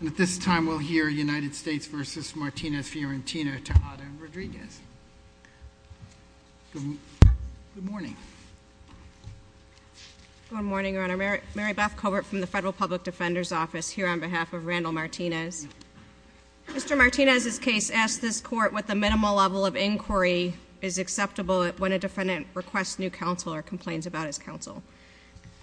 And at this time, we'll hear United States v. Martinez, Fiorentina, Tejada, and Rodriguez. Good morning. Good morning, Your Honor. Mary Beth Covert from the Federal Public Defender's Office here on behalf of Randall Martinez. Mr. Martinez's case asks this Court what the minimal level of inquiry is acceptable when a defendant requests new counsel or complains about his counsel.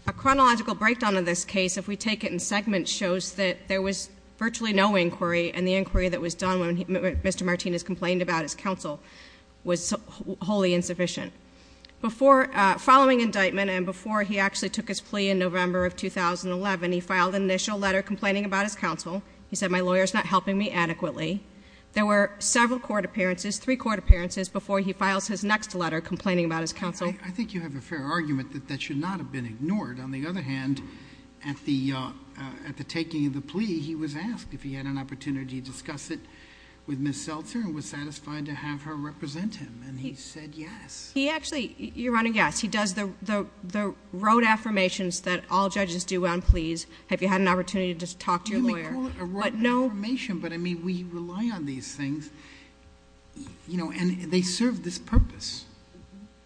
A chronological breakdown of this case, if we take it in segments, shows that there was virtually no inquiry, and the inquiry that was done when Mr. Martinez complained about his counsel was wholly insufficient. Following indictment and before he actually took his plea in November of 2011, he filed an initial letter complaining about his counsel. He said, my lawyer's not helping me adequately. There were several court appearances, three court appearances, before he files his next letter complaining about his counsel. I think you have a fair argument that that should not have been ignored. On the other hand, at the taking of the plea, he was asked if he had an opportunity to discuss it with Ms. Seltzer and was satisfied to have her represent him, and he said yes. He actually, Your Honor, yes. He does the rote affirmations that all judges do on pleas. Have you had an opportunity to talk to your lawyer? You may call it a rote affirmation, but, I mean, we rely on these things, and they serve this purpose.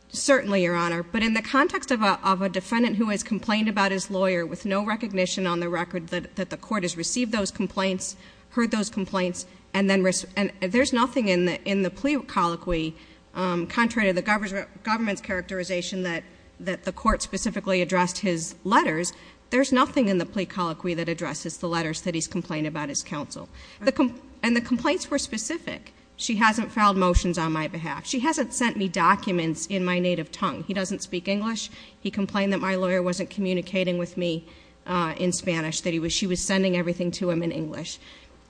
Certainly, Your Honor. But in the context of a defendant who has complained about his lawyer with no recognition on the record that the court has received those complaints, heard those complaints, and there's nothing in the plea colloquy contrary to the government's characterization that the court specifically addressed his letters, there's nothing in the plea colloquy that addresses the letters that he's complained about his counsel. And the complaints were specific. She hasn't filed motions on my behalf. She hasn't sent me documents in my native tongue. He doesn't speak English. He complained that my lawyer wasn't communicating with me in Spanish, that she was sending everything to him in English.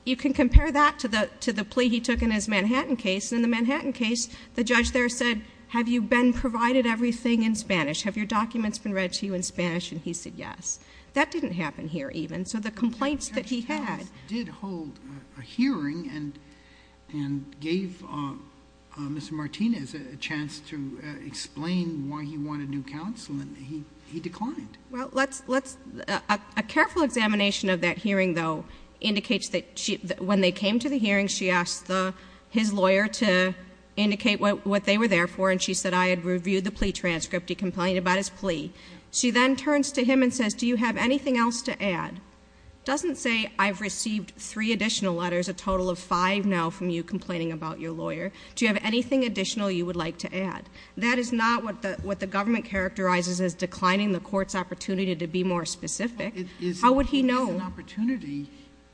You can compare that to the plea he took in his Manhattan case. In the Manhattan case, the judge there said, have you been provided everything in Spanish? Have your documents been read to you in Spanish? And he said yes. That didn't happen here, even. So the complaints that he had. The judge did hold a hearing and gave Mr. Martinez a chance to explain why he wanted new counsel, and he declined. Well, a careful examination of that hearing, though, indicates that when they came to the hearing, she asked his lawyer to indicate what they were there for, and she said, I had reviewed the plea transcript. He complained about his plea. She then turns to him and says, do you have anything else to add? Doesn't say, I've received three additional letters, a total of five now from you complaining about your lawyer. Do you have anything additional you would like to add? That is not what the government characterizes as declining the court's opportunity to be more specific. How would he know? It is an opportunity.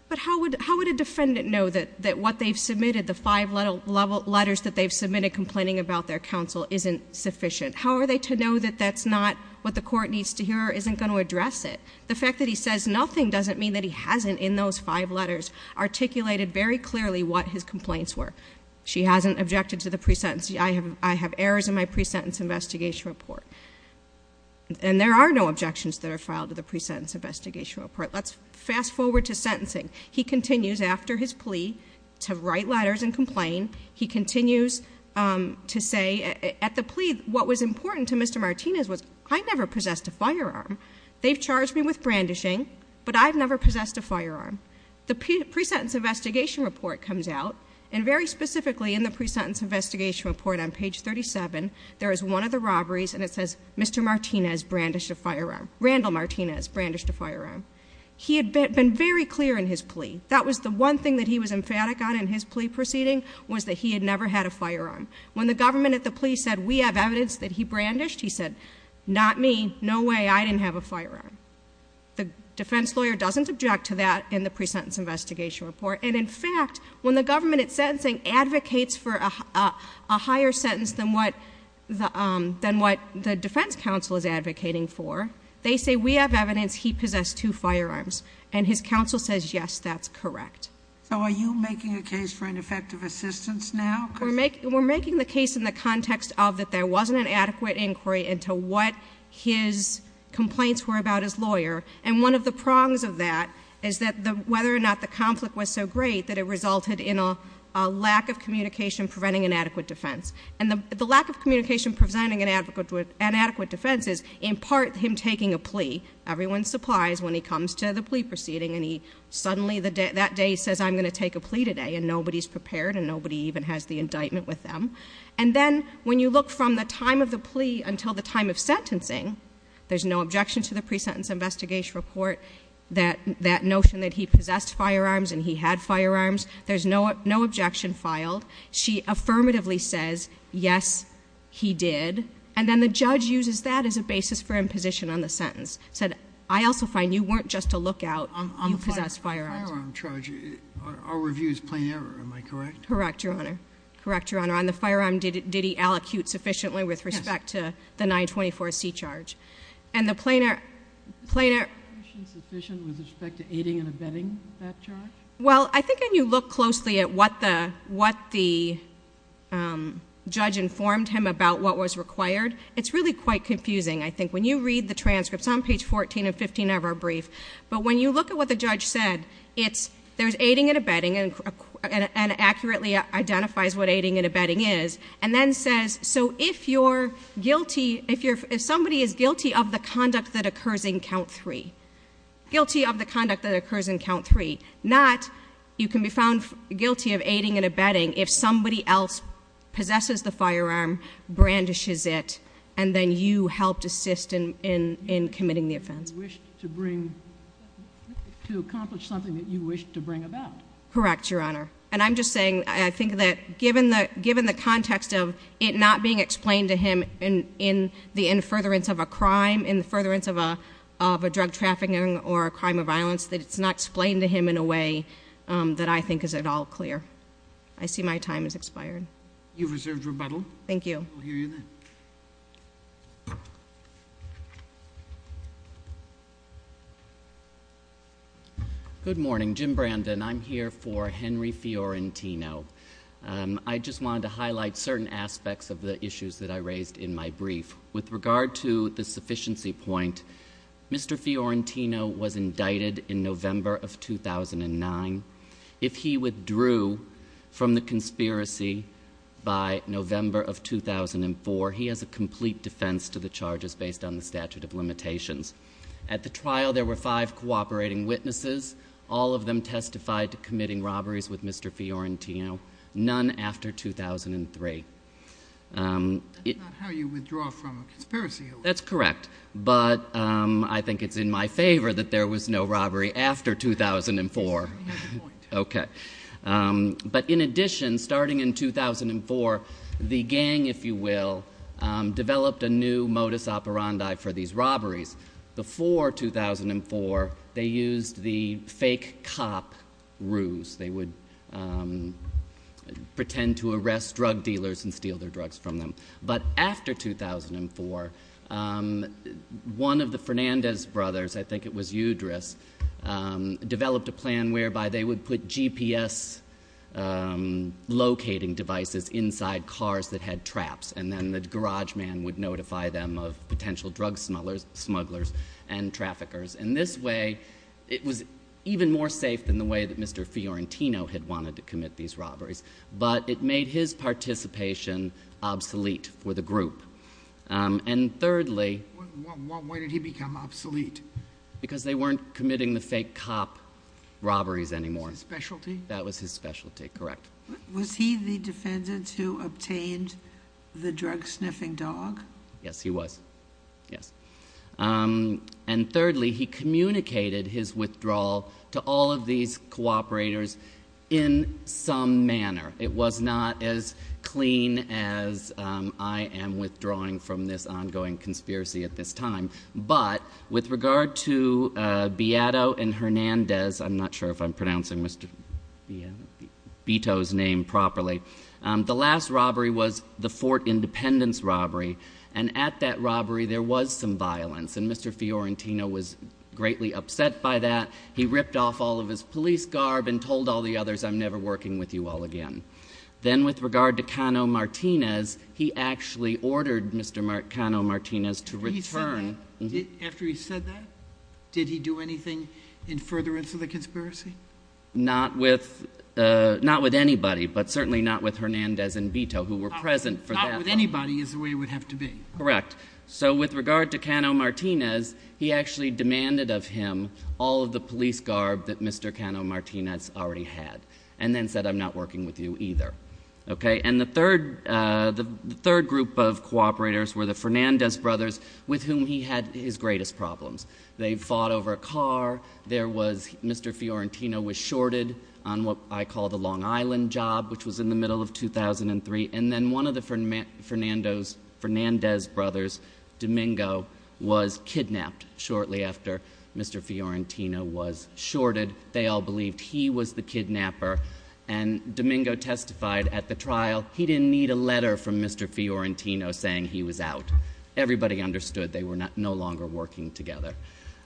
But how would a defendant know that what they've submitted, the five letters that they've submitted complaining about their counsel, isn't sufficient? How are they to know that that's not what the court needs to hear or isn't going to address it? The fact that he says nothing doesn't mean that he hasn't, in those five letters, articulated very clearly what his complaints were. She hasn't objected to the pre-sentence. I have errors in my pre-sentence investigation report. And there are no objections that are filed to the pre-sentence investigation report. Let's fast forward to sentencing. He continues, after his plea, to write letters and complain. He continues to say, at the plea, what was important to Mr. Martinez was, I never possessed a firearm. They've charged me with brandishing, but I've never possessed a firearm. The pre-sentence investigation report comes out, and very specifically in the pre-sentence investigation report on page 37, there is one of the robberies, and it says, Mr. Martinez brandished a firearm. Randall Martinez brandished a firearm. He had been very clear in his plea. That was the one thing that he was emphatic on in his plea proceeding, was that he had never had a firearm. When the government at the plea said, we have evidence that he brandished, he said, not me, no way, I didn't have a firearm. The defense lawyer doesn't object to that in the pre-sentence investigation report. And in fact, when the government at sentencing advocates for a higher sentence than what the defense counsel is advocating for, they say, we have evidence he possessed two firearms, and his counsel says, yes, that's correct. So are you making a case for ineffective assistance now? We're making the case in the context of that there wasn't an adequate inquiry into what his complaints were about his lawyer. And one of the prongs of that is that whether or not the conflict was so great that it resulted in a lack of communication preventing an adequate defense. And the lack of communication preventing an adequate defense is, in part, him taking a plea. Everyone's surprised when he comes to the plea proceeding, and suddenly that day he says, I'm going to take a plea today. And nobody's prepared, and nobody even has the indictment with them. And then, when you look from the time of the plea until the time of sentencing, there's no objection to the pre-sentence investigation report, that notion that he possessed firearms and he had firearms. There's no objection filed. She affirmatively says, yes, he did. And then the judge uses that as a basis for imposition on the sentence. Said, I also find you weren't just a lookout, you possessed firearms. On the firearm charge, our review is plain error, am I correct? Correct, Your Honor. Correct, Your Honor. On the firearm, did he allocute sufficiently with respect to the 924C charge? And the plain error- Was the allocation sufficient with respect to aiding and abetting that charge? Well, I think when you look closely at what the judge informed him about what was required, it's really quite confusing, I think. When you read the transcripts on page 14 and 15 of our brief, but when you look at what the judge said, there's aiding and abetting, and accurately identifies what aiding and abetting is, and then says, so if you're guilty, if somebody is guilty of the conduct that occurs in count three, guilty of the conduct that occurs in count three, not you can be found guilty of aiding and abetting if somebody else possesses the firearm, brandishes it, and then you helped assist in committing the offense. You wished to accomplish something that you wished to bring about. Correct, Your Honor. And I'm just saying, I think that given the context of it not being explained to him in furtherance of a crime, in furtherance of a drug trafficking or a crime of violence, that it's not explained to him in a way that I think is at all clear. I see my time has expired. You've reserved rebuttal. Thank you. We'll hear you then. Good morning. Jim Brandon. I'm here for Henry Fiorentino. I just wanted to highlight certain aspects of the issues that I raised in my brief. With regard to the sufficiency point, Mr. Fiorentino was indicted in November of 2009. If he withdrew from the conspiracy by November of 2004, he has a complete defense to the charges based on the statute of limitations. At the trial, there were five cooperating witnesses. All of them testified to committing robberies with Mr. Fiorentino. None after 2003. That's not how you withdraw from a conspiracy. That's correct. But I think it's in my favor that there was no robbery after 2004. He has a point. Okay. But in addition, starting in 2004, the gang, if you will, developed a new modus operandi for these robberies. Before 2004, they used the fake cop ruse. They would pretend to arrest drug dealers and steal their drugs from them. But after 2004, one of the Fernandez brothers, I think it was Eudris, developed a plan whereby they would put GPS locating devices inside cars that had traps, and then the garage man would notify them of potential drug smugglers and traffickers. In this way, it was even more safe than the way that Mr. Fiorentino had wanted to commit these robberies. But it made his participation obsolete for the group. And thirdly... Why did he become obsolete? Because they weren't committing the fake cop robberies anymore. His specialty? That was his specialty. Correct. Was he the defendant who obtained the drug sniffing dog? Yes, he was. Yes. And thirdly, he communicated his withdrawal to all of these cooperators in some manner. It was not as clean as I am withdrawing from this ongoing conspiracy at this time. But with regard to Beato and Fernandez... I'm not sure if I'm pronouncing Mr. Beato's name properly. The last robbery was the Fort Independence robbery, and at that robbery there was some violence. And Mr. Fiorentino was greatly upset by that. He ripped off all of his police garb and told all the others, I'm never working with you all again. Then with regard to Cano Martinez, he actually ordered Mr. Cano Martinez to return... After he said that, did he do anything in furtherance of the conspiracy? Not with anybody, but certainly not with Hernandez and Beato, who were present for that robbery. Not with anybody is the way it would have to be. Correct. So with regard to Cano Martinez, he actually demanded of him all of the police garb that Mr. Cano Martinez already had, and then said, I'm not working with you either. Okay. And the third group of cooperators were the Fernandez brothers, with whom he had his greatest problems. They fought over a car. There was... Mr. Fiorentino was shorted on what I call the Long Island job, which was in the middle of 2003. And then one of the Fernandez brothers, Domingo, was kidnapped shortly after Mr. Fiorentino was shorted. They all believed he was the kidnapper. And Domingo testified at the trial, he didn't need a letter from Mr. Fiorentino saying he was out. Everybody understood they were no longer working together.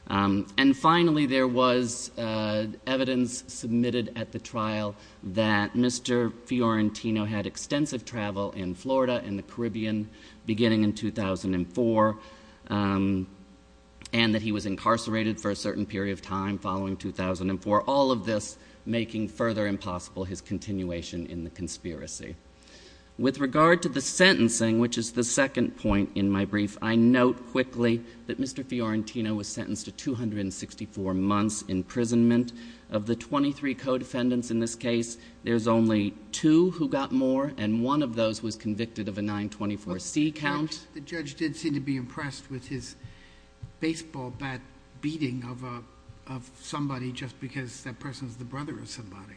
And finally, there was evidence submitted at the trial that Mr. Fiorentino had extensive travel in Florida and the Caribbean, beginning in 2004, and that he was incarcerated for a certain period of time following 2004. All of this making further impossible his continuation in the conspiracy. With regard to the sentencing, which is the second point in my brief, I note quickly that Mr. Fiorentino was sentenced to 264 months imprisonment. Of the 23 co-defendants in this case, there's only two who got more, and one of those was convicted of a 924C count. The judge did seem to be impressed with his baseball bat beating of somebody just because that person's the brother of somebody.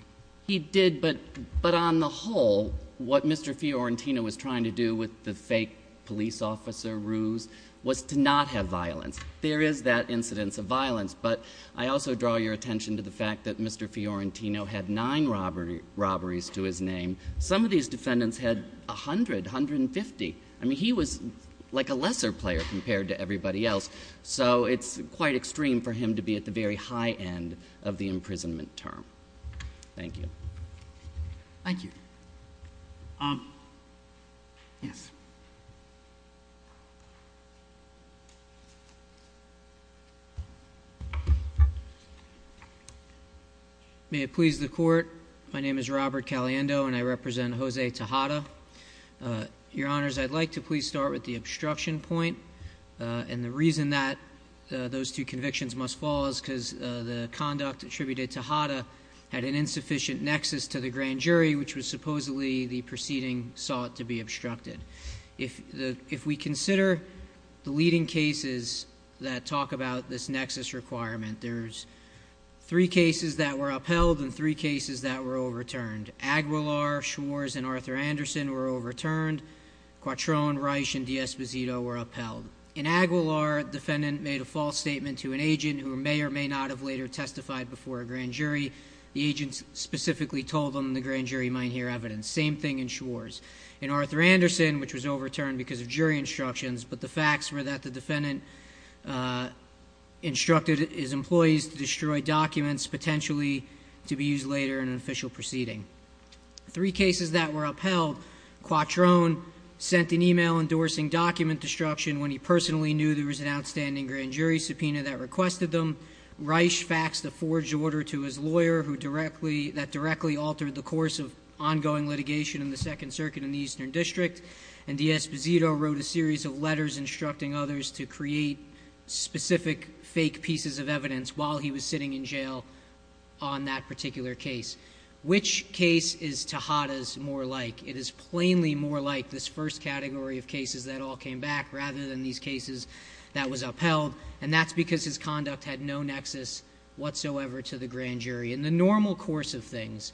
He did, but on the whole, what Mr. Fiorentino was trying to do with the fake police officer ruse was to not have violence. There is that incidence of violence, but I also draw your attention to the fact that Mr. Fiorentino had nine robberies to his name. Some of these defendants had 100, 150. I mean, he was like a lesser player compared to everybody else, so it's quite extreme for him to be at the very high end of the imprisonment term. Thank you. Thank you. Yes. May it please the Court. My name is Robert Caliendo, and I represent Jose Tejada. Your Honors, I'd like to please start with the obstruction point, and the reason that those two convictions must fall is because the conduct attributed to Tejada had an insufficient nexus to the grand jury, which was supposedly the proceeding sought to be obstructed. If we consider the leading cases that talk about this nexus requirement, there's three cases that were upheld and three cases that were overturned. Aguilar, Schwarz, and Arthur Anderson were overturned. Quattrone, Reich, and D'Esposito were upheld. In Aguilar, the defendant made a false statement to an agent who may or may not have later testified before a grand jury. The agent specifically told them the grand jury might hear evidence. Same thing in Schwarz. In Arthur Anderson, which was overturned because of jury instructions, but the facts were that the defendant instructed his employees to destroy documents potentially to be used later in an official proceeding. Three cases that were upheld, Quattrone sent an email endorsing document destruction when he personally knew there was an outstanding grand jury subpoena that requested them. Reich faxed a forged order to his lawyer that directly altered the course of ongoing litigation in the Second Circuit in the Eastern District. And D'Esposito wrote a series of letters instructing others to create specific fake pieces of evidence while he was sitting in jail on that particular case. Which case is Tejada's more like? It is plainly more like this first category of cases that all came back rather than these cases that was upheld. And that's because his conduct had no nexus whatsoever to the grand jury. In the normal course of things,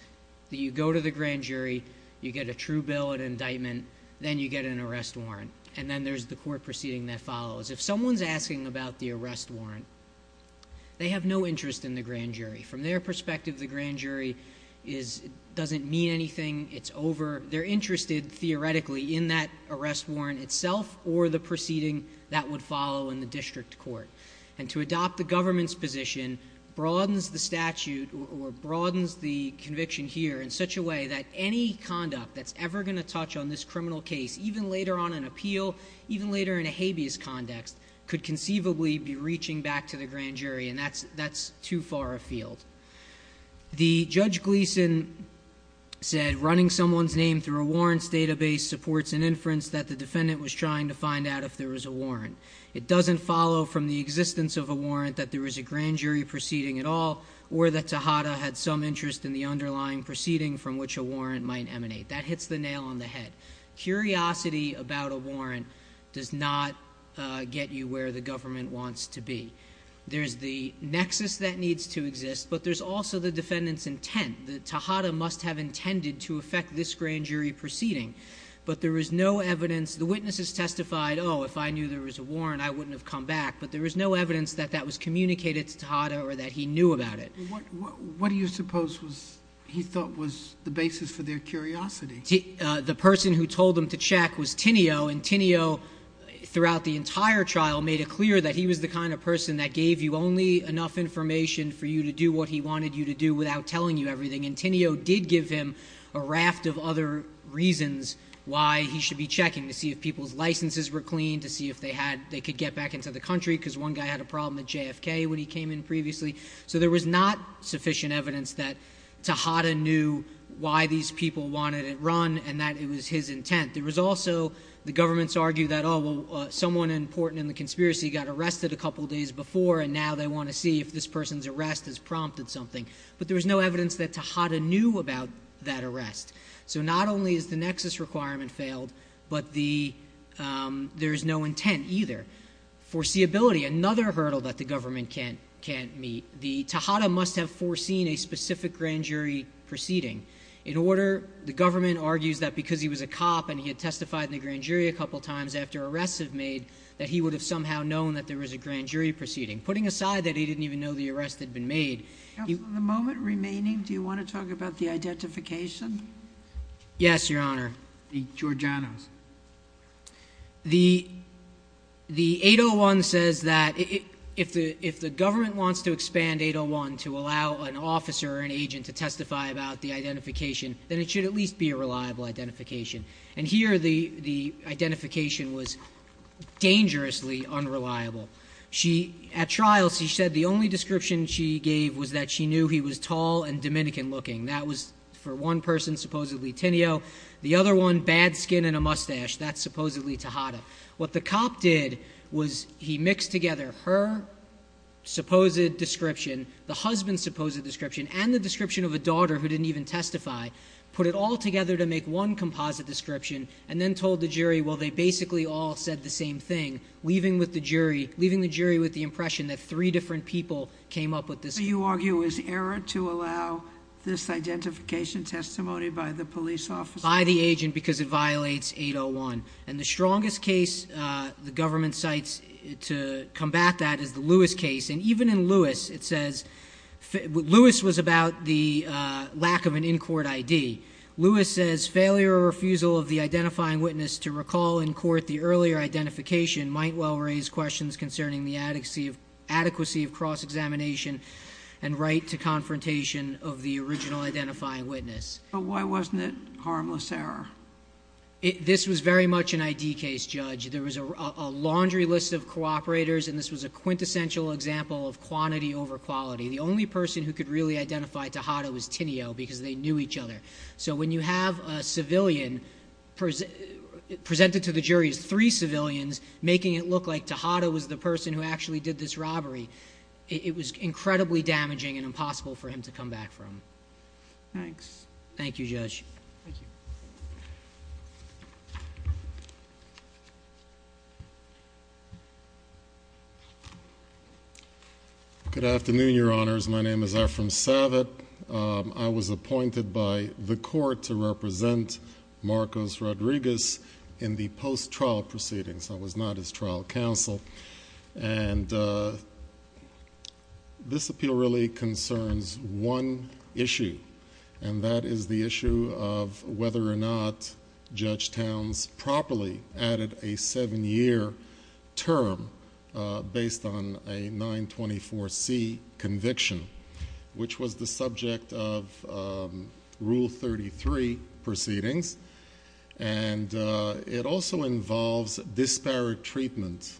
you go to the grand jury, you get a true bill, an indictment, then you get an arrest warrant. And then there's the court proceeding that follows. If someone's asking about the arrest warrant, they have no interest in the grand jury. From their perspective, the grand jury doesn't mean anything. It's over. They're interested theoretically in that arrest warrant itself or the proceeding that would follow in the district court. And to adopt the government's position broadens the statute or broadens the conviction here in such a way that any conduct that's ever going to touch on this criminal case, even later on an appeal, even later in a habeas context, could conceivably be reaching back to the grand jury. And that's too far afield. The Judge Gleeson said running someone's name through a warrants database supports an inference that the defendant was trying to find out if there was a warrant. It doesn't follow from the existence of a warrant that there was a grand jury proceeding at all, or that Tejada had some interest in the underlying proceeding from which a warrant might emanate. That hits the nail on the head. Curiosity about a warrant does not get you where the government wants to be. There's the nexus that needs to exist, but there's also the defendant's intent. Tejada must have intended to affect this grand jury proceeding. But there is no evidence. The witnesses testified, oh, if I knew there was a warrant, I wouldn't have come back. But there is no evidence that that was communicated to Tejada or that he knew about it. What do you suppose he thought was the basis for their curiosity? The person who told him to check was Tinio, and Tinio, throughout the entire trial, made it clear that he was the kind of person that gave you only enough information for you to do what he wanted you to do without telling you everything. And Tinio did give him a raft of other reasons why he should be checking to see if people's licenses were clean, to see if they could get back into the country because one guy had a problem at JFK when he came in previously. So there was not sufficient evidence that Tejada knew why these people wanted it run and that it was his intent. There was also the government's argument that, oh, well, someone important in the conspiracy got arrested a couple days before, and now they want to see if this person's arrest has prompted something. But there was no evidence that Tejada knew about that arrest. So not only has the nexus requirement failed, but there is no intent either. Foreseeability, another hurdle that the government can't meet. Tejada must have foreseen a specific grand jury proceeding. In order, the government argues that because he was a cop and he had testified in the grand jury a couple times after arrests have made, that he would have somehow known that there was a grand jury proceeding. Putting aside that he didn't even know the arrest had been made. The moment remaining, do you want to talk about the identification? Yes, Your Honor. The Georgianos. The 801 says that if the government wants to expand 801 to allow an officer or an agent to testify about the identification, then it should at least be a reliable identification. And here the identification was dangerously unreliable. At trials, she said the only description she gave was that she knew he was tall and Dominican looking. That was for one person, supposedly Tinio. The other one, bad skin and a mustache. That's supposedly Tejada. What the cop did was he mixed together her supposed description, the husband's supposed description, and the description of a daughter who didn't even testify, put it all together to make one composite description, and then told the jury, well, they basically all said the same thing, leaving the jury with the impression that three different people came up with this. So you argue it was error to allow this identification testimony by the police officer? By the agent because it violates 801. And the strongest case the government cites to combat that is the Lewis case. And even in Lewis, it says Lewis was about the lack of an in-court ID. Lewis says failure or refusal of the identifying witness to recall in court the earlier identification might well raise questions concerning the adequacy of cross-examination and right to confrontation of the original identifying witness. But why wasn't it harmless error? This was very much an ID case, Judge. There was a laundry list of cooperators, and this was a quintessential example of quantity over quality. The only person who could really identify Tejada was Tinio because they knew each other. So when you have a civilian presented to the jury as three civilians, making it look like Tejada was the person who actually did this robbery, it was incredibly damaging and impossible for him to come back from. Thanks. Thank you, Judge. Thank you. Good afternoon, Your Honors. My name is Ephraim Savitt. I was appointed by the court to represent Marcos Rodriguez in the post-trial proceedings. I was not his trial counsel. And this appeal really concerns one issue, and that is the issue of whether or not Judge Towns properly added a seven-year term based on a 924C conviction, which was the subject of Rule 33 proceedings. And it also involves disparate treatment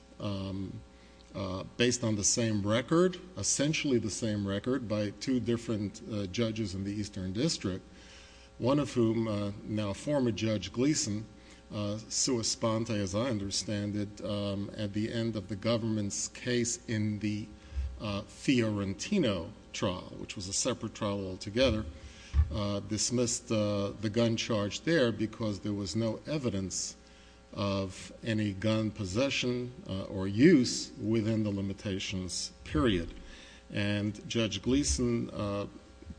based on the same record, essentially the same record by two different judges in the Eastern District, one of whom, now former Judge Gleason, sued Esponte, as I understand it, at the end of the government's case in the Fiorentino trial, which was a separate trial altogether, dismissed the gun charge there because there was no evidence of any gun possession or use within the limitations period. And Judge Gleason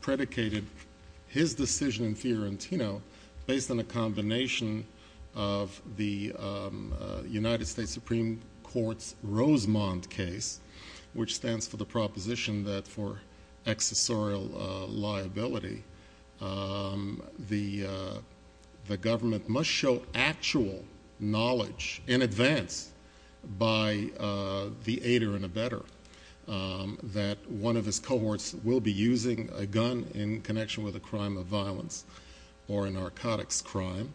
predicated his decision in Fiorentino based on a combination of the United States Supreme Court's which stands for the proposition that for accessorial liability, the government must show actual knowledge in advance by the aider and abetter that one of his cohorts will be using a gun in connection with a crime of violence or a narcotics crime,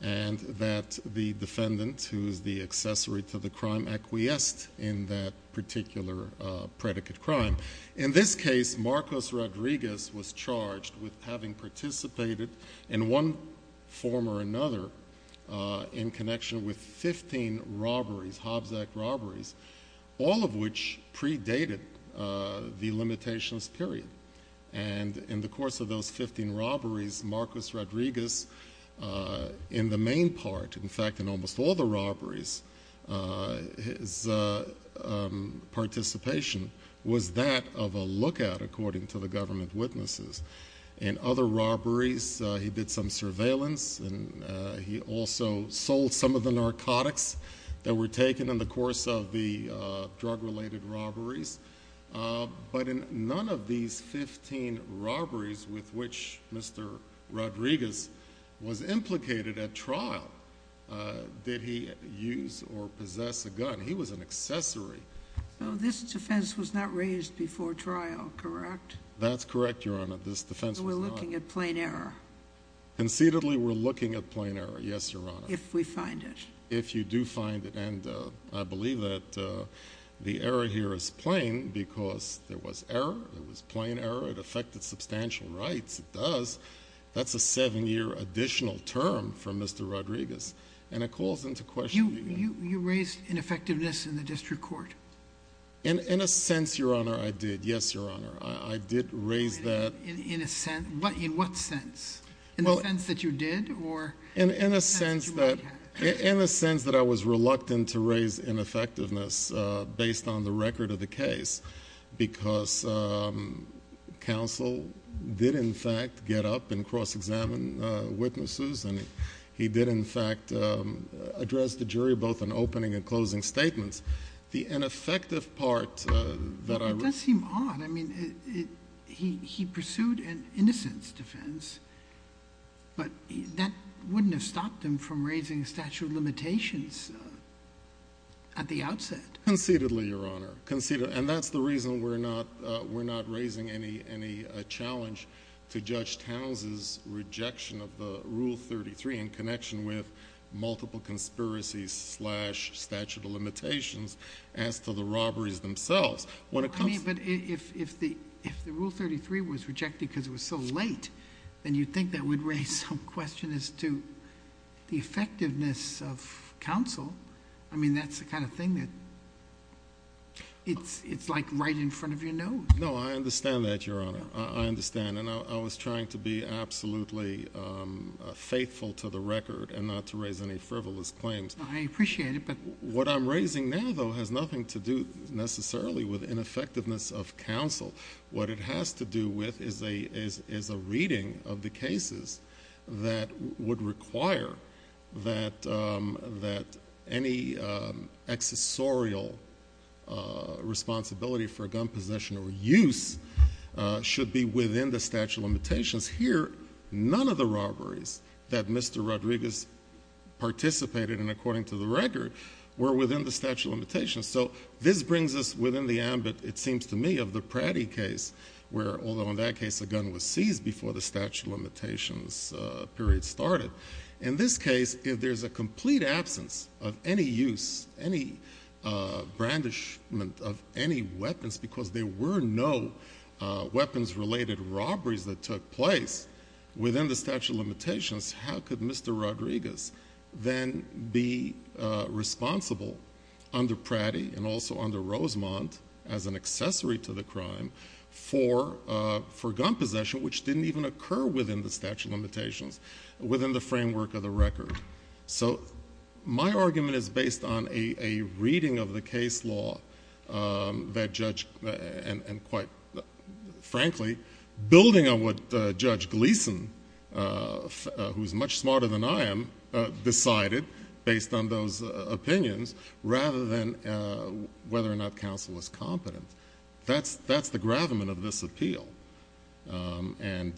and that the defendant, who is the accessory to the crime, acquiesced in that particular predicate crime. In this case, Marcos Rodriguez was charged with having participated in one form or another in connection with 15 robberies, Hobbs Act robberies, all of which predated the limitations period. And in the course of those 15 robberies, Marcos Rodriguez, in the main part, in fact, in almost all the robberies, his participation was that of a lookout, according to the government witnesses. In other robberies, he did some surveillance, and he also sold some of the narcotics that were taken in the course of the drug-related robberies. But in none of these 15 robberies with which Mr. Rodriguez was implicated at trial, did he use or possess a gun. He was an accessory. So this defense was not raised before trial, correct? That's correct, Your Honor. This defense was not. So we're looking at plain error. Conceitedly, we're looking at plain error, yes, Your Honor. If we find it. If you do find it. And I believe that the error here is plain because there was error. It was plain error. It affected substantial rights. It does. That's a seven-year additional term for Mr. Rodriguez. And it calls into question the evidence. You raised ineffectiveness in the district court. In a sense, Your Honor, I did. Yes, Your Honor, I did raise that. In a sense? In what sense? In the sense that you did? In a sense that I was reluctant to raise ineffectiveness based on the record of the case because counsel did, in fact, get up and cross-examine witnesses, and he did, in fact, address the jury both in opening and closing statements. The ineffective part that I... It does seem odd. He pursued an innocence defense, but that wouldn't have stopped him from raising statute of limitations at the outset. Conceitedly, Your Honor. And that's the reason we're not raising any challenge to Judge Towns's rejection of Rule 33 in connection with multiple conspiracies slash statute of limitations as to the robberies themselves. But if the Rule 33 was rejected because it was so late, then you'd think that would raise some question as to the effectiveness of counsel. I mean, that's the kind of thing that it's like right in front of your nose. No, I understand that, Your Honor. I understand, and I was trying to be absolutely faithful to the record and not to raise any frivolous claims. I appreciate it, but... What it has to do with is a reading of the cases that would require that any accessorial responsibility for a gun possession or use should be within the statute of limitations. Here, none of the robberies that Mr. Rodriguez participated in, according to the record, were within the statute of limitations. So this brings us within the ambit, it seems to me, of the Pratty case, where although in that case a gun was seized before the statute of limitations period started, in this case, if there's a complete absence of any use, any brandishment of any weapons, because there were no weapons-related robberies that took place within the statute of limitations, how could Mr. Rodriguez then be responsible under Pratty and also under Rosemont as an accessory to the crime for gun possession, which didn't even occur within the statute of limitations, within the framework of the record? So my argument is based on a reading of the case law that Judge... who's much smarter than I am, decided, based on those opinions, rather than whether or not counsel was competent. That's the gravamen of this appeal. And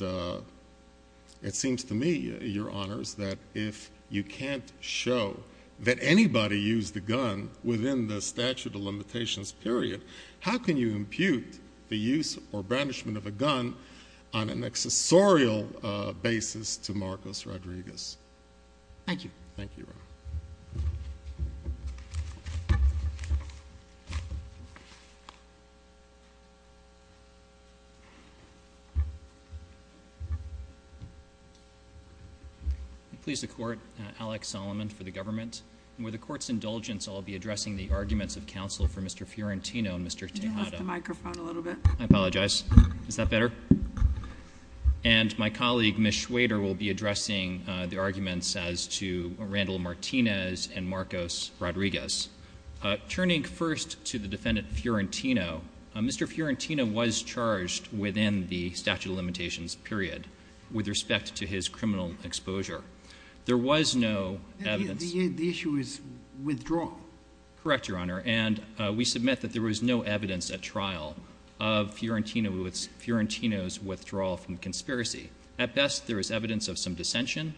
it seems to me, Your Honors, that if you can't show that anybody used a gun within the statute of limitations period, how can you impute the use or brandishment of a gun on an accessorial basis to Marcos Rodriguez? Thank you. Thank you, Your Honor. Please, the Court. Alex Solomon for the government. And with the Court's indulgence, I'll be addressing the arguments of counsel for Mr. Fiorentino and Mr. Tejada. Can you lift the microphone a little bit? I apologize. Is that better? And my colleague, Ms. Schwader, will be addressing the arguments as to Randall Martinez and Marcos Rodriguez. Turning first to the defendant Fiorentino, Mr. Fiorentino was charged within the statute of limitations period There was no evidence... The issue is withdrawal. Correct, Your Honor. And we submit that there was no evidence at trial of Fiorentino's withdrawal from the conspiracy. At best, there is evidence of some dissension,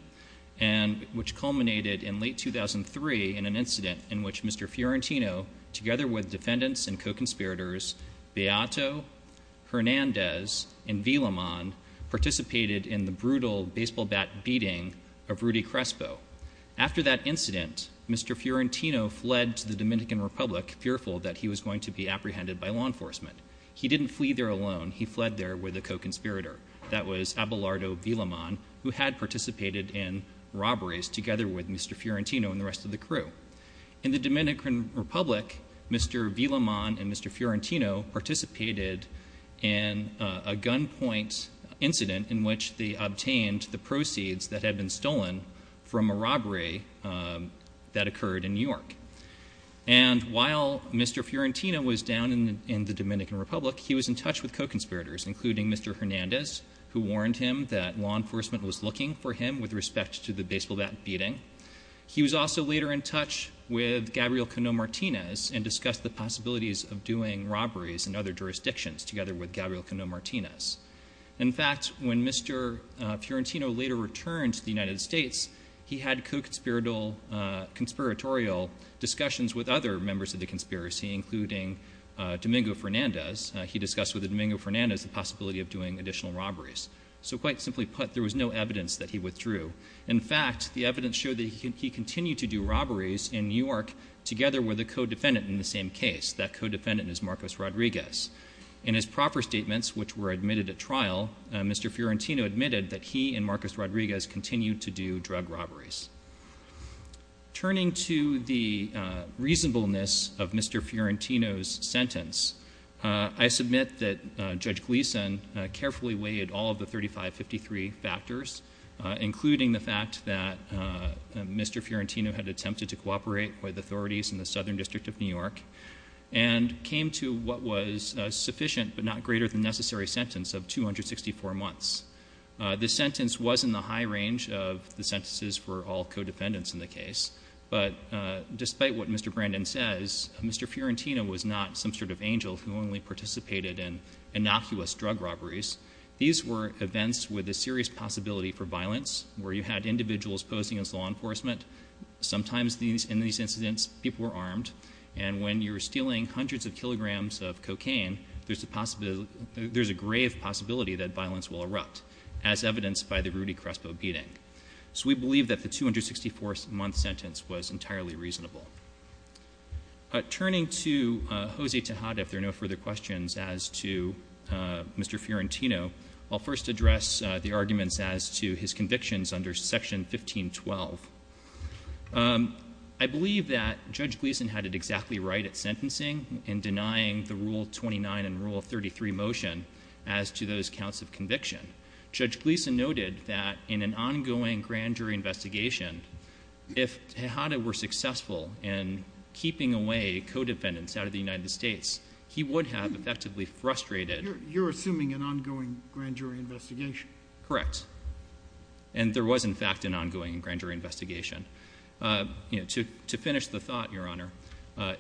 which culminated in late 2003 in an incident in which Mr. Fiorentino, together with defendants and co-conspirators Beato, Hernandez, and Villamon, participated in the brutal baseball bat beating of Rudy Crespo. After that incident, Mr. Fiorentino fled to the Dominican Republic, fearful that he was going to be apprehended by law enforcement. He didn't flee there alone. He fled there with a co-conspirator. That was Abelardo Villamon, who had participated in robberies together with Mr. Fiorentino and the rest of the crew. In the Dominican Republic, Mr. Villamon and Mr. Fiorentino participated in a gunpoint incident in which they obtained the proceeds that had been stolen from a robbery that occurred in New York. And while Mr. Fiorentino was down in the Dominican Republic, he was in touch with co-conspirators, including Mr. Hernandez, who warned him that law enforcement was looking for him with respect to the baseball bat beating. He was also later in touch with Gabriel Cano Martinez and discussed the possibilities of doing robberies in other jurisdictions, together with Gabriel Cano Martinez. In fact, when Mr. Fiorentino later returned to the United States, he had co-conspiratorial discussions with other members of the conspiracy, including Domingo Fernandez. He discussed with Domingo Fernandez the possibility of doing additional robberies. So quite simply put, there was no evidence that he withdrew. In fact, the evidence showed that he continued to do robberies in New York together with a co-defendant in the same case. That co-defendant is Marcos Rodriguez. In his proper statements, which were admitted at trial, Mr. Fiorentino admitted that he and Marcos Rodriguez continued to do drug robberies. Turning to the reasonableness of Mr. Fiorentino's sentence, I submit that Judge Gleeson carefully weighed all of the 3553 factors, including the fact that Mr. Fiorentino had attempted to cooperate with authorities in the Southern District of New York and came to what was a sufficient but not greater than necessary sentence of 264 months. This sentence was in the high range of the sentences for all co-defendants in the case, but despite what Mr. Brandon says, Mr. Fiorentino was not some sort of angel who only participated in innocuous drug robberies. These were events with a serious possibility for violence where you had individuals posing as law enforcement. Sometimes in these incidents, people were armed. And when you're stealing hundreds of kilograms of cocaine, there's a grave possibility that violence will erupt, as evidenced by the Rudy Crespo beating. So we believe that the 264-month sentence was entirely reasonable. Turning to Jose Tejada, if there are no further questions as to Mr. Fiorentino, I'll first address the arguments as to his convictions under Section 1512. I believe that Judge Gleeson had it exactly right at sentencing in denying the Rule 29 and Rule 33 motion as to those counts of conviction. Judge Gleeson noted that in an ongoing grand jury investigation, if Tejada were successful in keeping away co-defendants out of the United States, he would have effectively frustrated— You're assuming an ongoing grand jury investigation? Correct. And there was, in fact, an ongoing grand jury investigation. To finish the thought, Your Honor,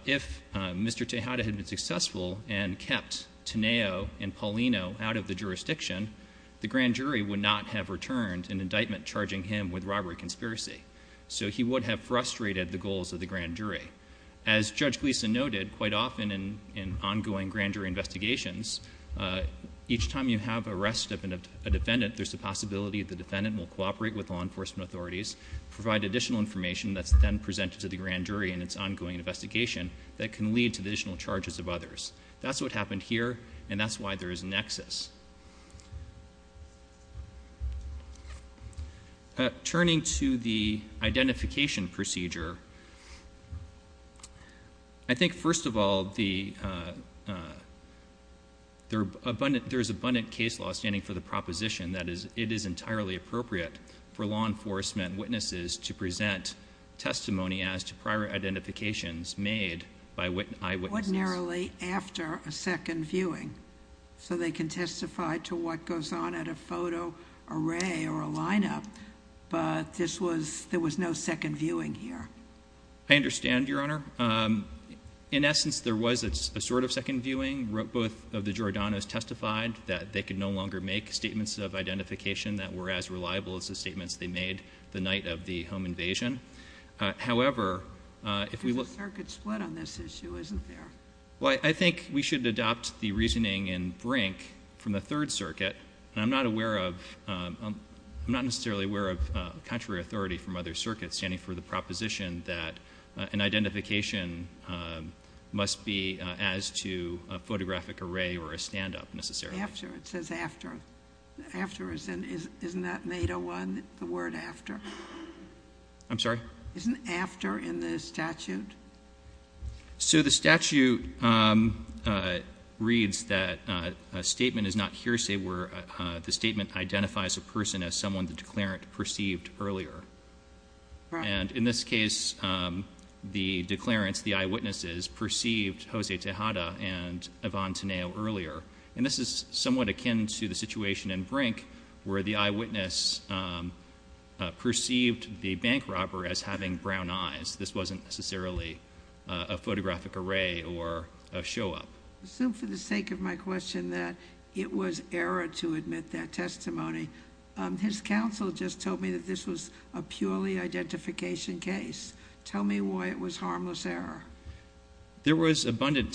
if Mr. Tejada had been successful and kept Teneo and Paulino out of the jurisdiction, the grand jury would not have returned an indictment charging him with robbery conspiracy. So he would have frustrated the goals of the grand jury. As Judge Gleeson noted, quite often in ongoing grand jury investigations, each time you have arrest of a defendant, there's a possibility the defendant will cooperate with law enforcement authorities, provide additional information that's then presented to the grand jury in its ongoing investigation that can lead to additional charges of others. That's what happened here, and that's why there is a nexus. Turning to the identification procedure, I think, first of all, there is abundant case law standing for the proposition that it is entirely appropriate for law enforcement witnesses to present testimony as to prior identifications made by eyewitnesses. Ordinarily after a second viewing, so they can testify to what goes on at a photo array or a lineup, but there was no second viewing here. I understand, Your Honor. In essence, there was a sort of second viewing. Both of the Giordanos testified that they could no longer make statements of identification that were as reliable as the statements they made the night of the home invasion. However, if we look— There's a circuit split on this issue, isn't there? Well, I think we should adopt the reasoning in Brink from the Third Circuit. And I'm not aware of—I'm not necessarily aware of contrary authority from other circuits standing for the proposition that an identification must be as to a photographic array or a standup, necessarily. After. It says after. After. Isn't that in 801, the word after? I'm sorry? Isn't after in the statute? So the statute reads that a statement is not hearsay where the statement identifies a person as someone the declarant perceived earlier. And in this case, the declarants, the eyewitnesses, perceived Jose Tejada and Yvonne Teneo earlier. And this is somewhat akin to the situation in Brink where the eyewitness perceived the bank robber as having brown eyes. This wasn't necessarily a photographic array or a show-up. I assume for the sake of my question that it was error to admit that testimony. His counsel just told me that this was a purely identification case. Tell me why it was harmless error. There was abundant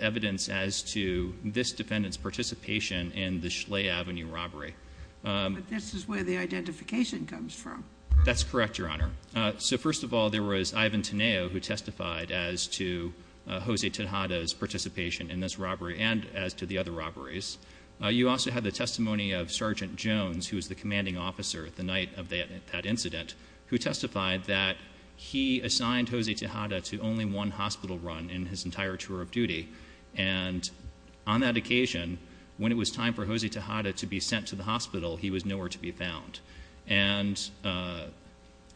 evidence as to this defendant's participation in the Schley Avenue robbery. But this is where the identification comes from. That's correct, Your Honor. So first of all, there was Ivan Teneo who testified as to Jose Tejada's participation in this robbery and as to the other robberies. You also have the testimony of Sergeant Jones, who was the commanding officer the night of that incident, who testified that he assigned Jose Tejada to only one hospital run in his entire tour of duty. And on that occasion, when it was time for Jose Tejada to be sent to the hospital, he was nowhere to be found. And a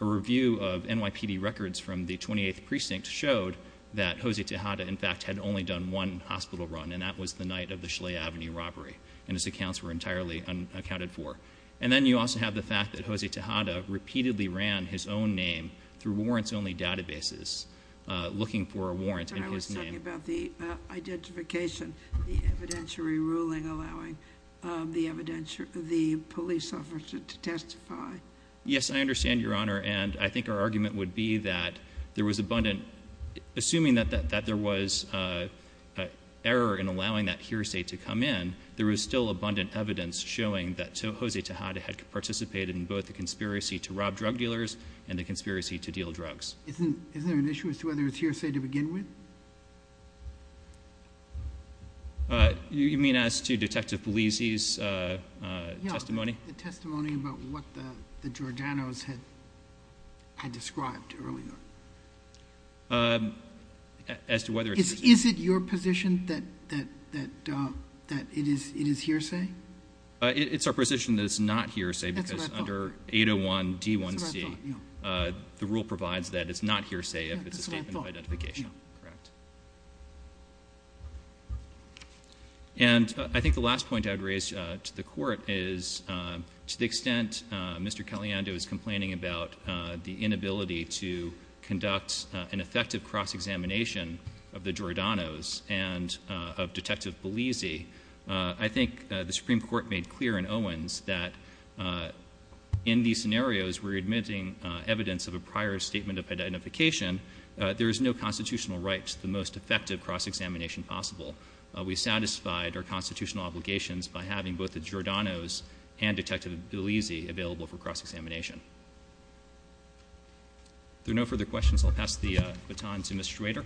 review of NYPD records from the 28th Precinct showed that Jose Tejada, in fact, had only done one hospital run, and that was the night of the Schley Avenue robbery, and his accounts were entirely unaccounted for. And then you also have the fact that Jose Tejada repeatedly ran his own name through warrants-only databases looking for a warrant in his name. You're talking about the identification, the evidentiary ruling allowing the police officer to testify. Yes, I understand, Your Honor. And I think our argument would be that there was abundant-assuming that there was error in allowing that hearsay to come in, there was still abundant evidence showing that Jose Tejada had participated in both the conspiracy to rob drug dealers and the conspiracy to deal drugs. Isn't there an issue as to whether it's hearsay to begin with? You mean as to Detective Polizzi's testimony? Yeah, the testimony about what the Georgianos had described earlier. Is it your position that it is hearsay? It's our position that it's not hearsay because under 801 D1C, the rule provides that it's not hearsay if it's a statement of identification. Correct. And I think the last point I would raise to the Court is to the extent Mr. Caliendo is complaining about the inability to conduct an effective cross-examination of the Georgianos and of Detective Polizzi, I think the Supreme Court made clear in Owens that in these scenarios, we're admitting evidence of a prior statement of identification. There is no constitutional right to the most effective cross-examination possible. We satisfied our constitutional obligations by having both the Georgianos and Detective Polizzi available for cross-examination. If there are no further questions, I'll pass the baton to Mr. Schrader.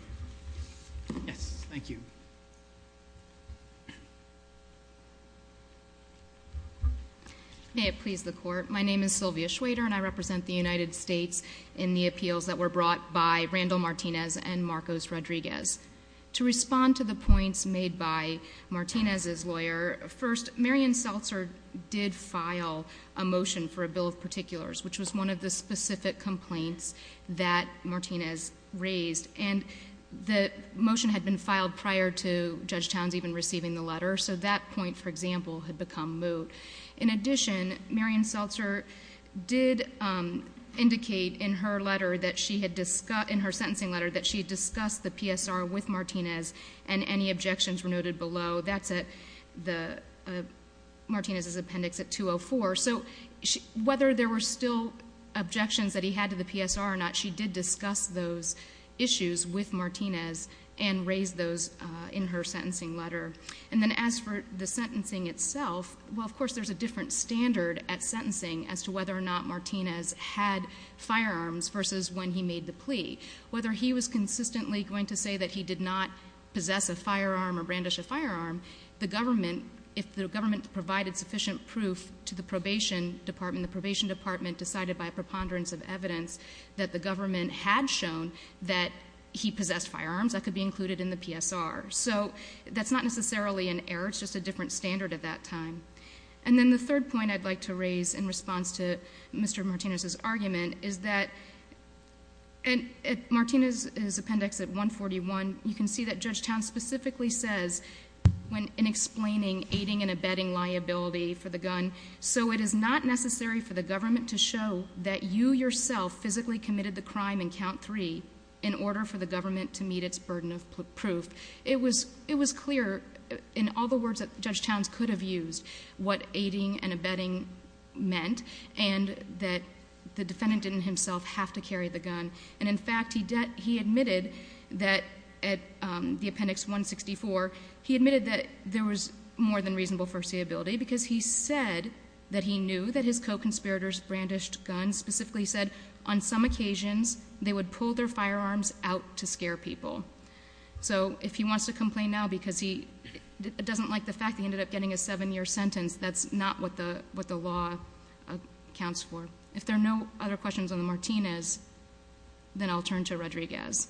Yes, thank you. May it please the Court. My name is Sylvia Schrader and I represent the United States in the appeals that were brought by Randall Martinez and Marcos Rodriguez. To respond to the points made by Martinez's lawyer, first, Marion Seltzer did file a motion for a bill of particulars, which was one of the specific complaints that Martinez raised. And the motion had been filed prior to Judge Towns even receiving the letter, so that point, for example, had become moot. In addition, Marion Seltzer did indicate in her letter that she had discussed, in her sentencing letter, that she had discussed the PSR with Martinez and any objections were noted below. That's at Martinez's appendix at 204. So whether there were still objections that he had to the PSR or not, she did discuss those issues with Martinez and raised those in her sentencing letter. And then as for the sentencing itself, well, of course, there's a different standard at sentencing as to whether or not Martinez had firearms versus when he made the plea. Whether he was consistently going to say that he did not possess a firearm or brandish a firearm, the government, if the government provided sufficient proof to the probation department, the probation department decided by a preponderance of evidence that the government had shown that he possessed firearms, that could be included in the PSR. So that's not necessarily an error. It's just a different standard at that time. And then the third point I'd like to raise in response to Mr. Martinez's argument is that at Martinez's appendix at 141, you can see that Judge Towns specifically says in explaining aiding and abetting liability for the gun, so it is not necessary for the government to show that you yourself physically committed the crime in count three in order for the government to meet its burden of proof. It was clear in all the words that Judge Towns could have used what aiding and abetting meant and that the defendant didn't himself have to carry the gun. And, in fact, he admitted that at the appendix 164, he admitted that there was more than reasonable foreseeability because he said that he knew that his co-conspirators brandished guns, specifically said on some occasions they would pull their firearms out to scare people. So if he wants to complain now because he doesn't like the fact that he ended up getting a seven-year sentence, that's not what the law accounts for. If there are no other questions on the Martinez, then I'll turn to Rodriguez.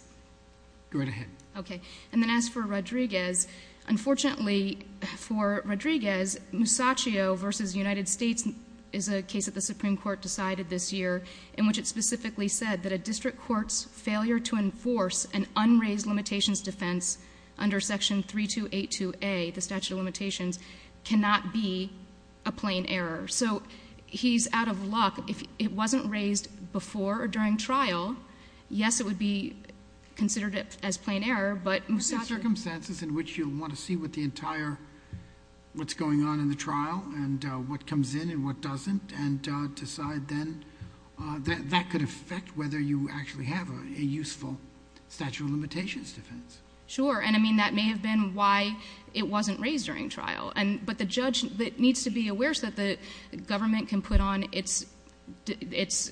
Go right ahead. Okay. And then as for Rodriguez, unfortunately for Rodriguez, Musacchio v. United States is a case that the Supreme Court decided this year in which it specifically said that a district court's failure to enforce an unraised limitations defense under Section 3282A, the statute of limitations, cannot be a plain error. So he's out of luck. If it wasn't raised before or during trial, yes, it would be considered as plain error, but Musacchio— What are the circumstances in which you'll want to see what the entire—what's going on in the trial and what comes in and what doesn't and decide then that that could affect whether you actually have a useful statute of limitations defense? Sure. And, I mean, that may have been why it wasn't raised during trial. But the judge needs to be aware so that the government can put on its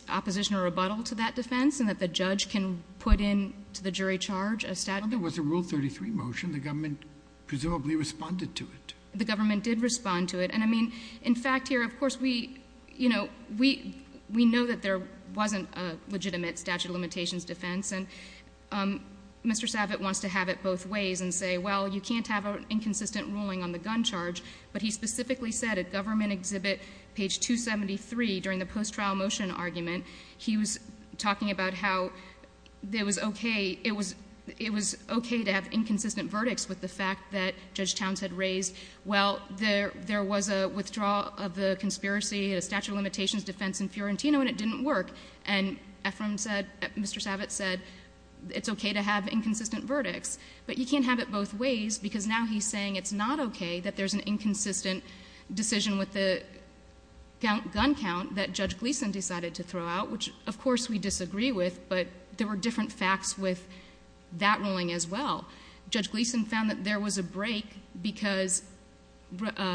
opposition or rebuttal to that defense and that the judge can put into the jury charge a statute— Well, there was a Rule 33 motion. The government presumably responded to it. The government did respond to it. And, I mean, in fact, here, of course, we know that there wasn't a legitimate statute of limitations defense. And Mr. Savitt wants to have it both ways and say, well, you can't have an inconsistent ruling on the gun charge. But he specifically said at government exhibit page 273 during the post-trial motion argument, he was talking about how it was okay to have inconsistent verdicts with the fact that Judge Towns had raised, well, there was a withdrawal of the conspiracy, a statute of limitations defense in Fiorentino, and it didn't work. And Mr. Savitt said it's okay to have inconsistent verdicts. But you can't have it both ways because now he's saying it's not okay that there's an inconsistent decision with the gun count that Judge Gleeson decided to throw out, which, of course, we disagree with. But there were different facts with that ruling as well. Judge Gleeson found that there was a break because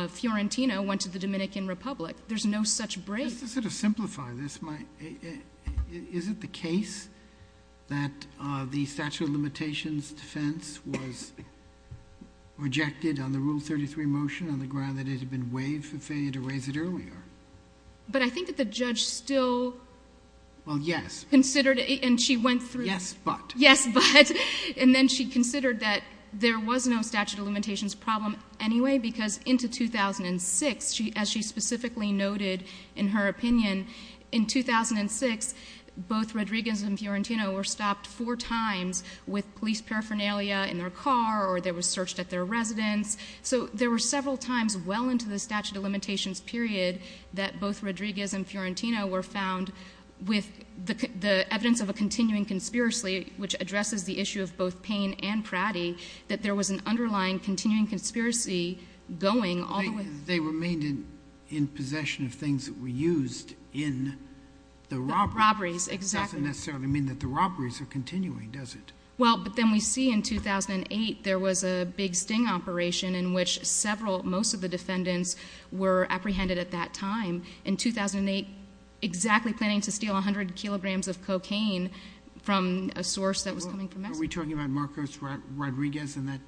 Fiorentino went to the Dominican Republic. There's no such break. Just to sort of simplify this, is it the case that the statute of limitations defense was rejected on the Rule 33 motion on the ground that it had been waived for failure to raise it earlier? But I think that the judge still considered it and she went through. Yes, but. Yes, but. And then she considered that there was no statute of limitations problem anyway because into 2006, as she specifically noted in her opinion, in 2006, both Rodriguez and Fiorentino were stopped four times with police paraphernalia in their car or they were searched at their residence. So there were several times well into the statute of limitations period that both Rodriguez and Fiorentino were found with the evidence of a continuing conspiracy, which addresses the issue of both Payne and Pratty, that there was an underlying continuing conspiracy going all the way. They remained in possession of things that were used in the robberies. Robberies, exactly. It doesn't necessarily mean that the robberies are continuing, does it? Well, but then we see in 2008 there was a big sting operation in which several, most of the defendants were apprehended at that time. In 2008, exactly planning to steal 100 kilograms of cocaine from a source that was coming from Mexico. Are we talking about Marcos Rodriguez in that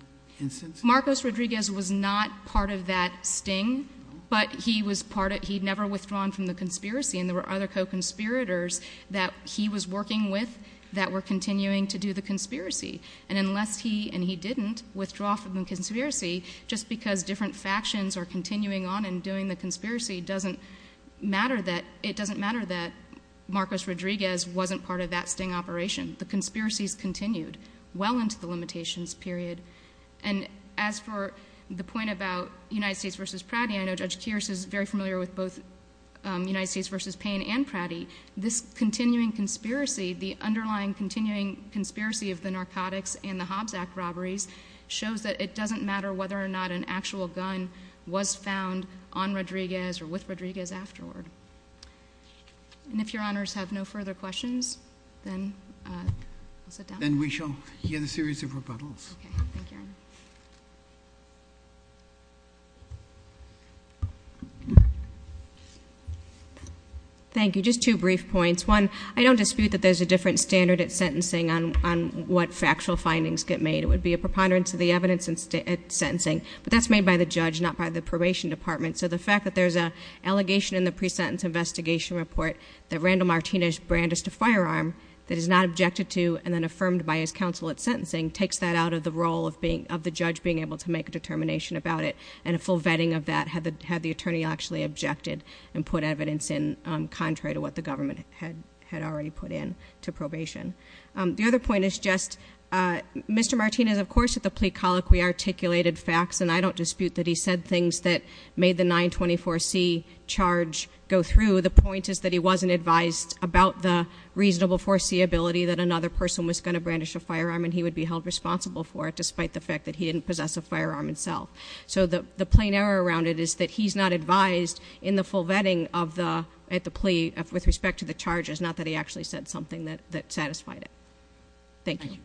instance? Marcos Rodriguez was not part of that sting, but he never withdrawn from the conspiracy and there were other co-conspirators that he was working with that were continuing to do the conspiracy. And unless he and he didn't withdraw from the conspiracy, just because different factions are continuing on and doing the conspiracy, it doesn't matter that Marcos Rodriguez wasn't part of that sting operation. The conspiracies continued well into the limitations period. And as for the point about United States v. Pratty, I know Judge Kearse is very familiar with both United States v. Payne and Pratty. This continuing conspiracy, the underlying continuing conspiracy of the narcotics and the Hobbs Act robberies shows that it doesn't matter whether or not an actual gun was found on Rodriguez or with Rodriguez afterward. And if Your Honors have no further questions, then we'll sit down. Thank you, Your Honors. Thank you. Just two brief points. One, I don't dispute that there's a different standard at sentencing on what factual findings get made. It would be a preponderance of the evidence at sentencing. But that's made by the judge, not by the probation department. So the fact that there's an allegation in the pre-sentence investigation report that Randall Martinez brandished a firearm that is not objected to and then affirmed by his counsel at sentencing takes that out of the role of the judge being able to make a determination about it. And a full vetting of that had the attorney actually objected and put evidence in, contrary to what the government had already put in to probation. The other point is just, Mr. Martinez, of course, at the plea colloquy articulated facts, and I don't dispute that he said things that made the 924C charge go through. The point is that he wasn't advised about the reasonable foreseeability that another person was going to brandish a firearm, and he would be held responsible for it despite the fact that he didn't possess a firearm himself. So the plain error around it is that he's not advised in the full vetting at the plea with respect to the charges, not that he actually said something that satisfied it. Thank you. Thank you.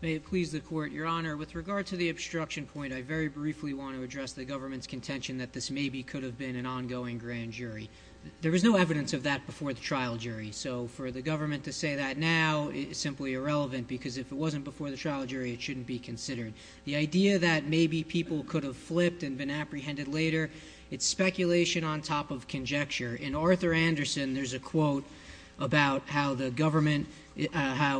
May it please the Court, Your Honor, with regard to the obstruction point, I very briefly want to address the government's contention that this maybe could have been an ongoing grand jury. There was no evidence of that before the trial jury, so for the government to say that now is simply irrelevant because if it wasn't before the trial jury, it shouldn't be considered. The idea that maybe people could have flipped and been apprehended later, it's speculation on top of conjecture. In Arthur Anderson, there's a quote about how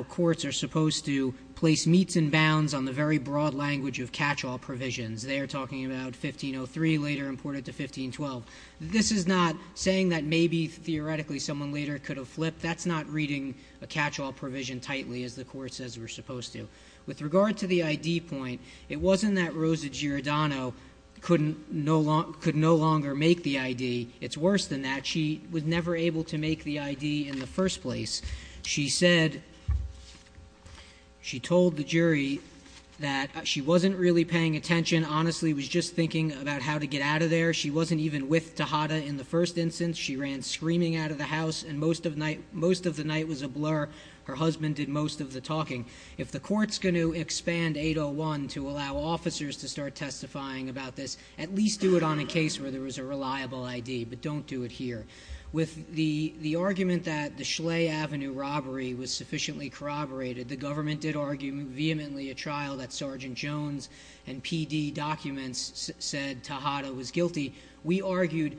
courts are supposed to place meats and bounds on the very broad language of catch-all provisions. They are talking about 1503, later imported to 1512. This is not saying that maybe theoretically someone later could have flipped. That's not reading a catch-all provision tightly, as the Court says we're supposed to. With regard to the ID point, it wasn't that Rosa Giordano could no longer make the ID. It's worse than that. She was never able to make the ID in the first place. She said she told the jury that she wasn't really paying attention, honestly was just thinking about how to get out of there. She wasn't even with Tejada in the first instance. She ran screaming out of the house, and most of the night was a blur. Her husband did most of the talking. If the Court's going to expand 801 to allow officers to start testifying about this, at least do it on a case where there was a reliable ID, but don't do it here. With the argument that the Schley Avenue robbery was sufficiently corroborated, the government did argue vehemently a trial that Sergeant Jones and PD documents said Tejada was guilty. We argued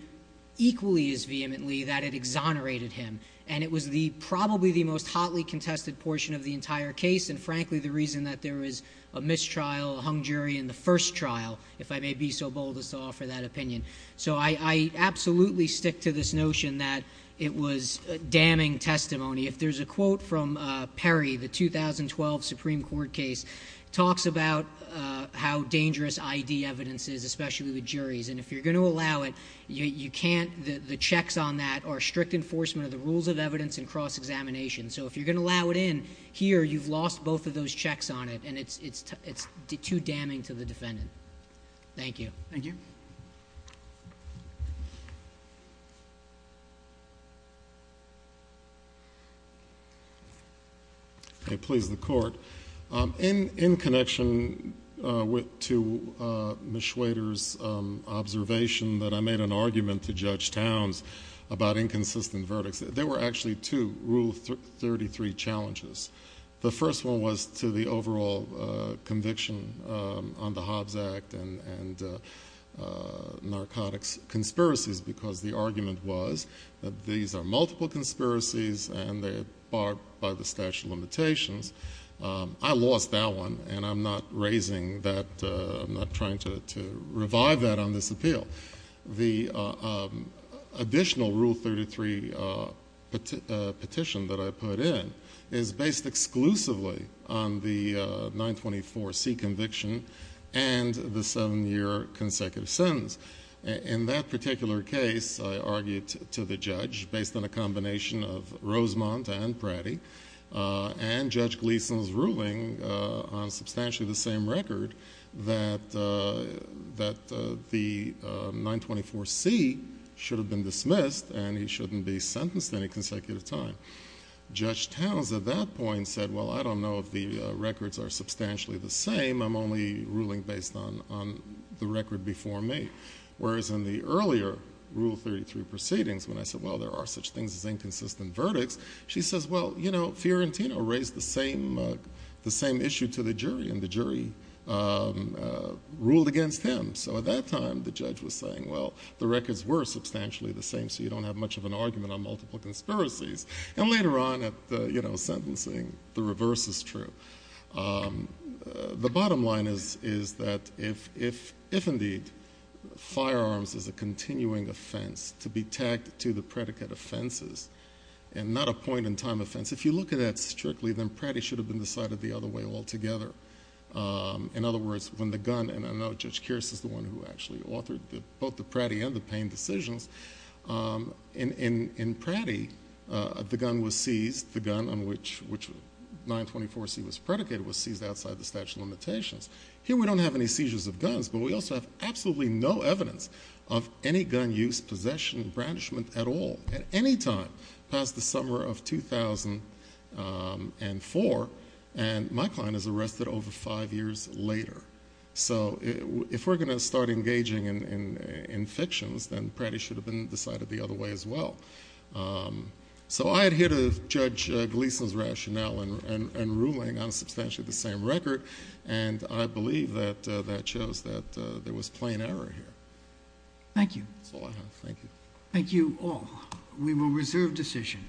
equally as vehemently that it exonerated him, and it was probably the most hotly contested portion of the entire case, and frankly the reason that there was a mistrial, a hung jury in the first trial, if I may be so bold as to offer that opinion. I absolutely stick to this notion that it was damning testimony. If there's a quote from Perry, the 2012 Supreme Court case, it talks about how dangerous ID evidence is, especially with juries. If you're going to allow it, the checks on that are strict enforcement of the rules of evidence and cross-examination, so if you're going to allow it in here, you've lost both of those checks on it, and it's too damning to the defendant. Thank you. Thank you. Please, the Court. In connection to Ms. Schwader's observation that I made an argument to Judge Towns about inconsistent verdicts, there were actually two Rule 33 challenges. The first one was to the overall conviction on the Hobbs Act and narcotics conspiracies because the argument was that these are multiple conspiracies and they are barred by the statute of limitations. I lost that one, and I'm not raising that. I'm not trying to revive that on this appeal. The additional Rule 33 petition that I put in is based exclusively on the 924C conviction and the seven-year consecutive sentence. In that particular case, I argued to the judge based on a combination of Rosemont and Pratti and Judge Gleeson's ruling on substantially the same record that the 924C should have been dismissed and he shouldn't be sentenced any consecutive time. Judge Towns at that point said, well, I don't know if the records are substantially the same. I'm only ruling based on the record before me. Whereas in the earlier Rule 33 proceedings when I said, well, there are such things as inconsistent verdicts, she says, well, you know, Fiorentino raised the same issue to the jury and the jury ruled against him. So at that time, the judge was saying, well, the records were substantially the same so you don't have much of an argument on multiple conspiracies. And later on at the sentencing, the reverse is true. The bottom line is that if indeed firearms is a continuing offense to be tagged to the predicate offenses and not a point-in-time offense, if you look at that strictly, then Pratti should have been decided the other way altogether. In other words, when the gun, and I know Judge Kearse is the one who actually authored both the Pratti and the Payne decisions, in Pratti the gun was seized, the gun on which 924C was predicated, was seized outside the statute of limitations. Here we don't have any seizures of guns, but we also have absolutely no evidence of any gun use, possession, or brandishment at all at any time past the summer of 2004, and my client is arrested over five years later. So if we're going to start engaging in fictions, then Pratti should have been decided the other way as well. So I adhere to Judge Gleason's rationale in ruling on substantially the same record, and I believe that that shows that there was plain error here. Thank you. That's all I have. Thank you. Thank you all. We will reserve decision.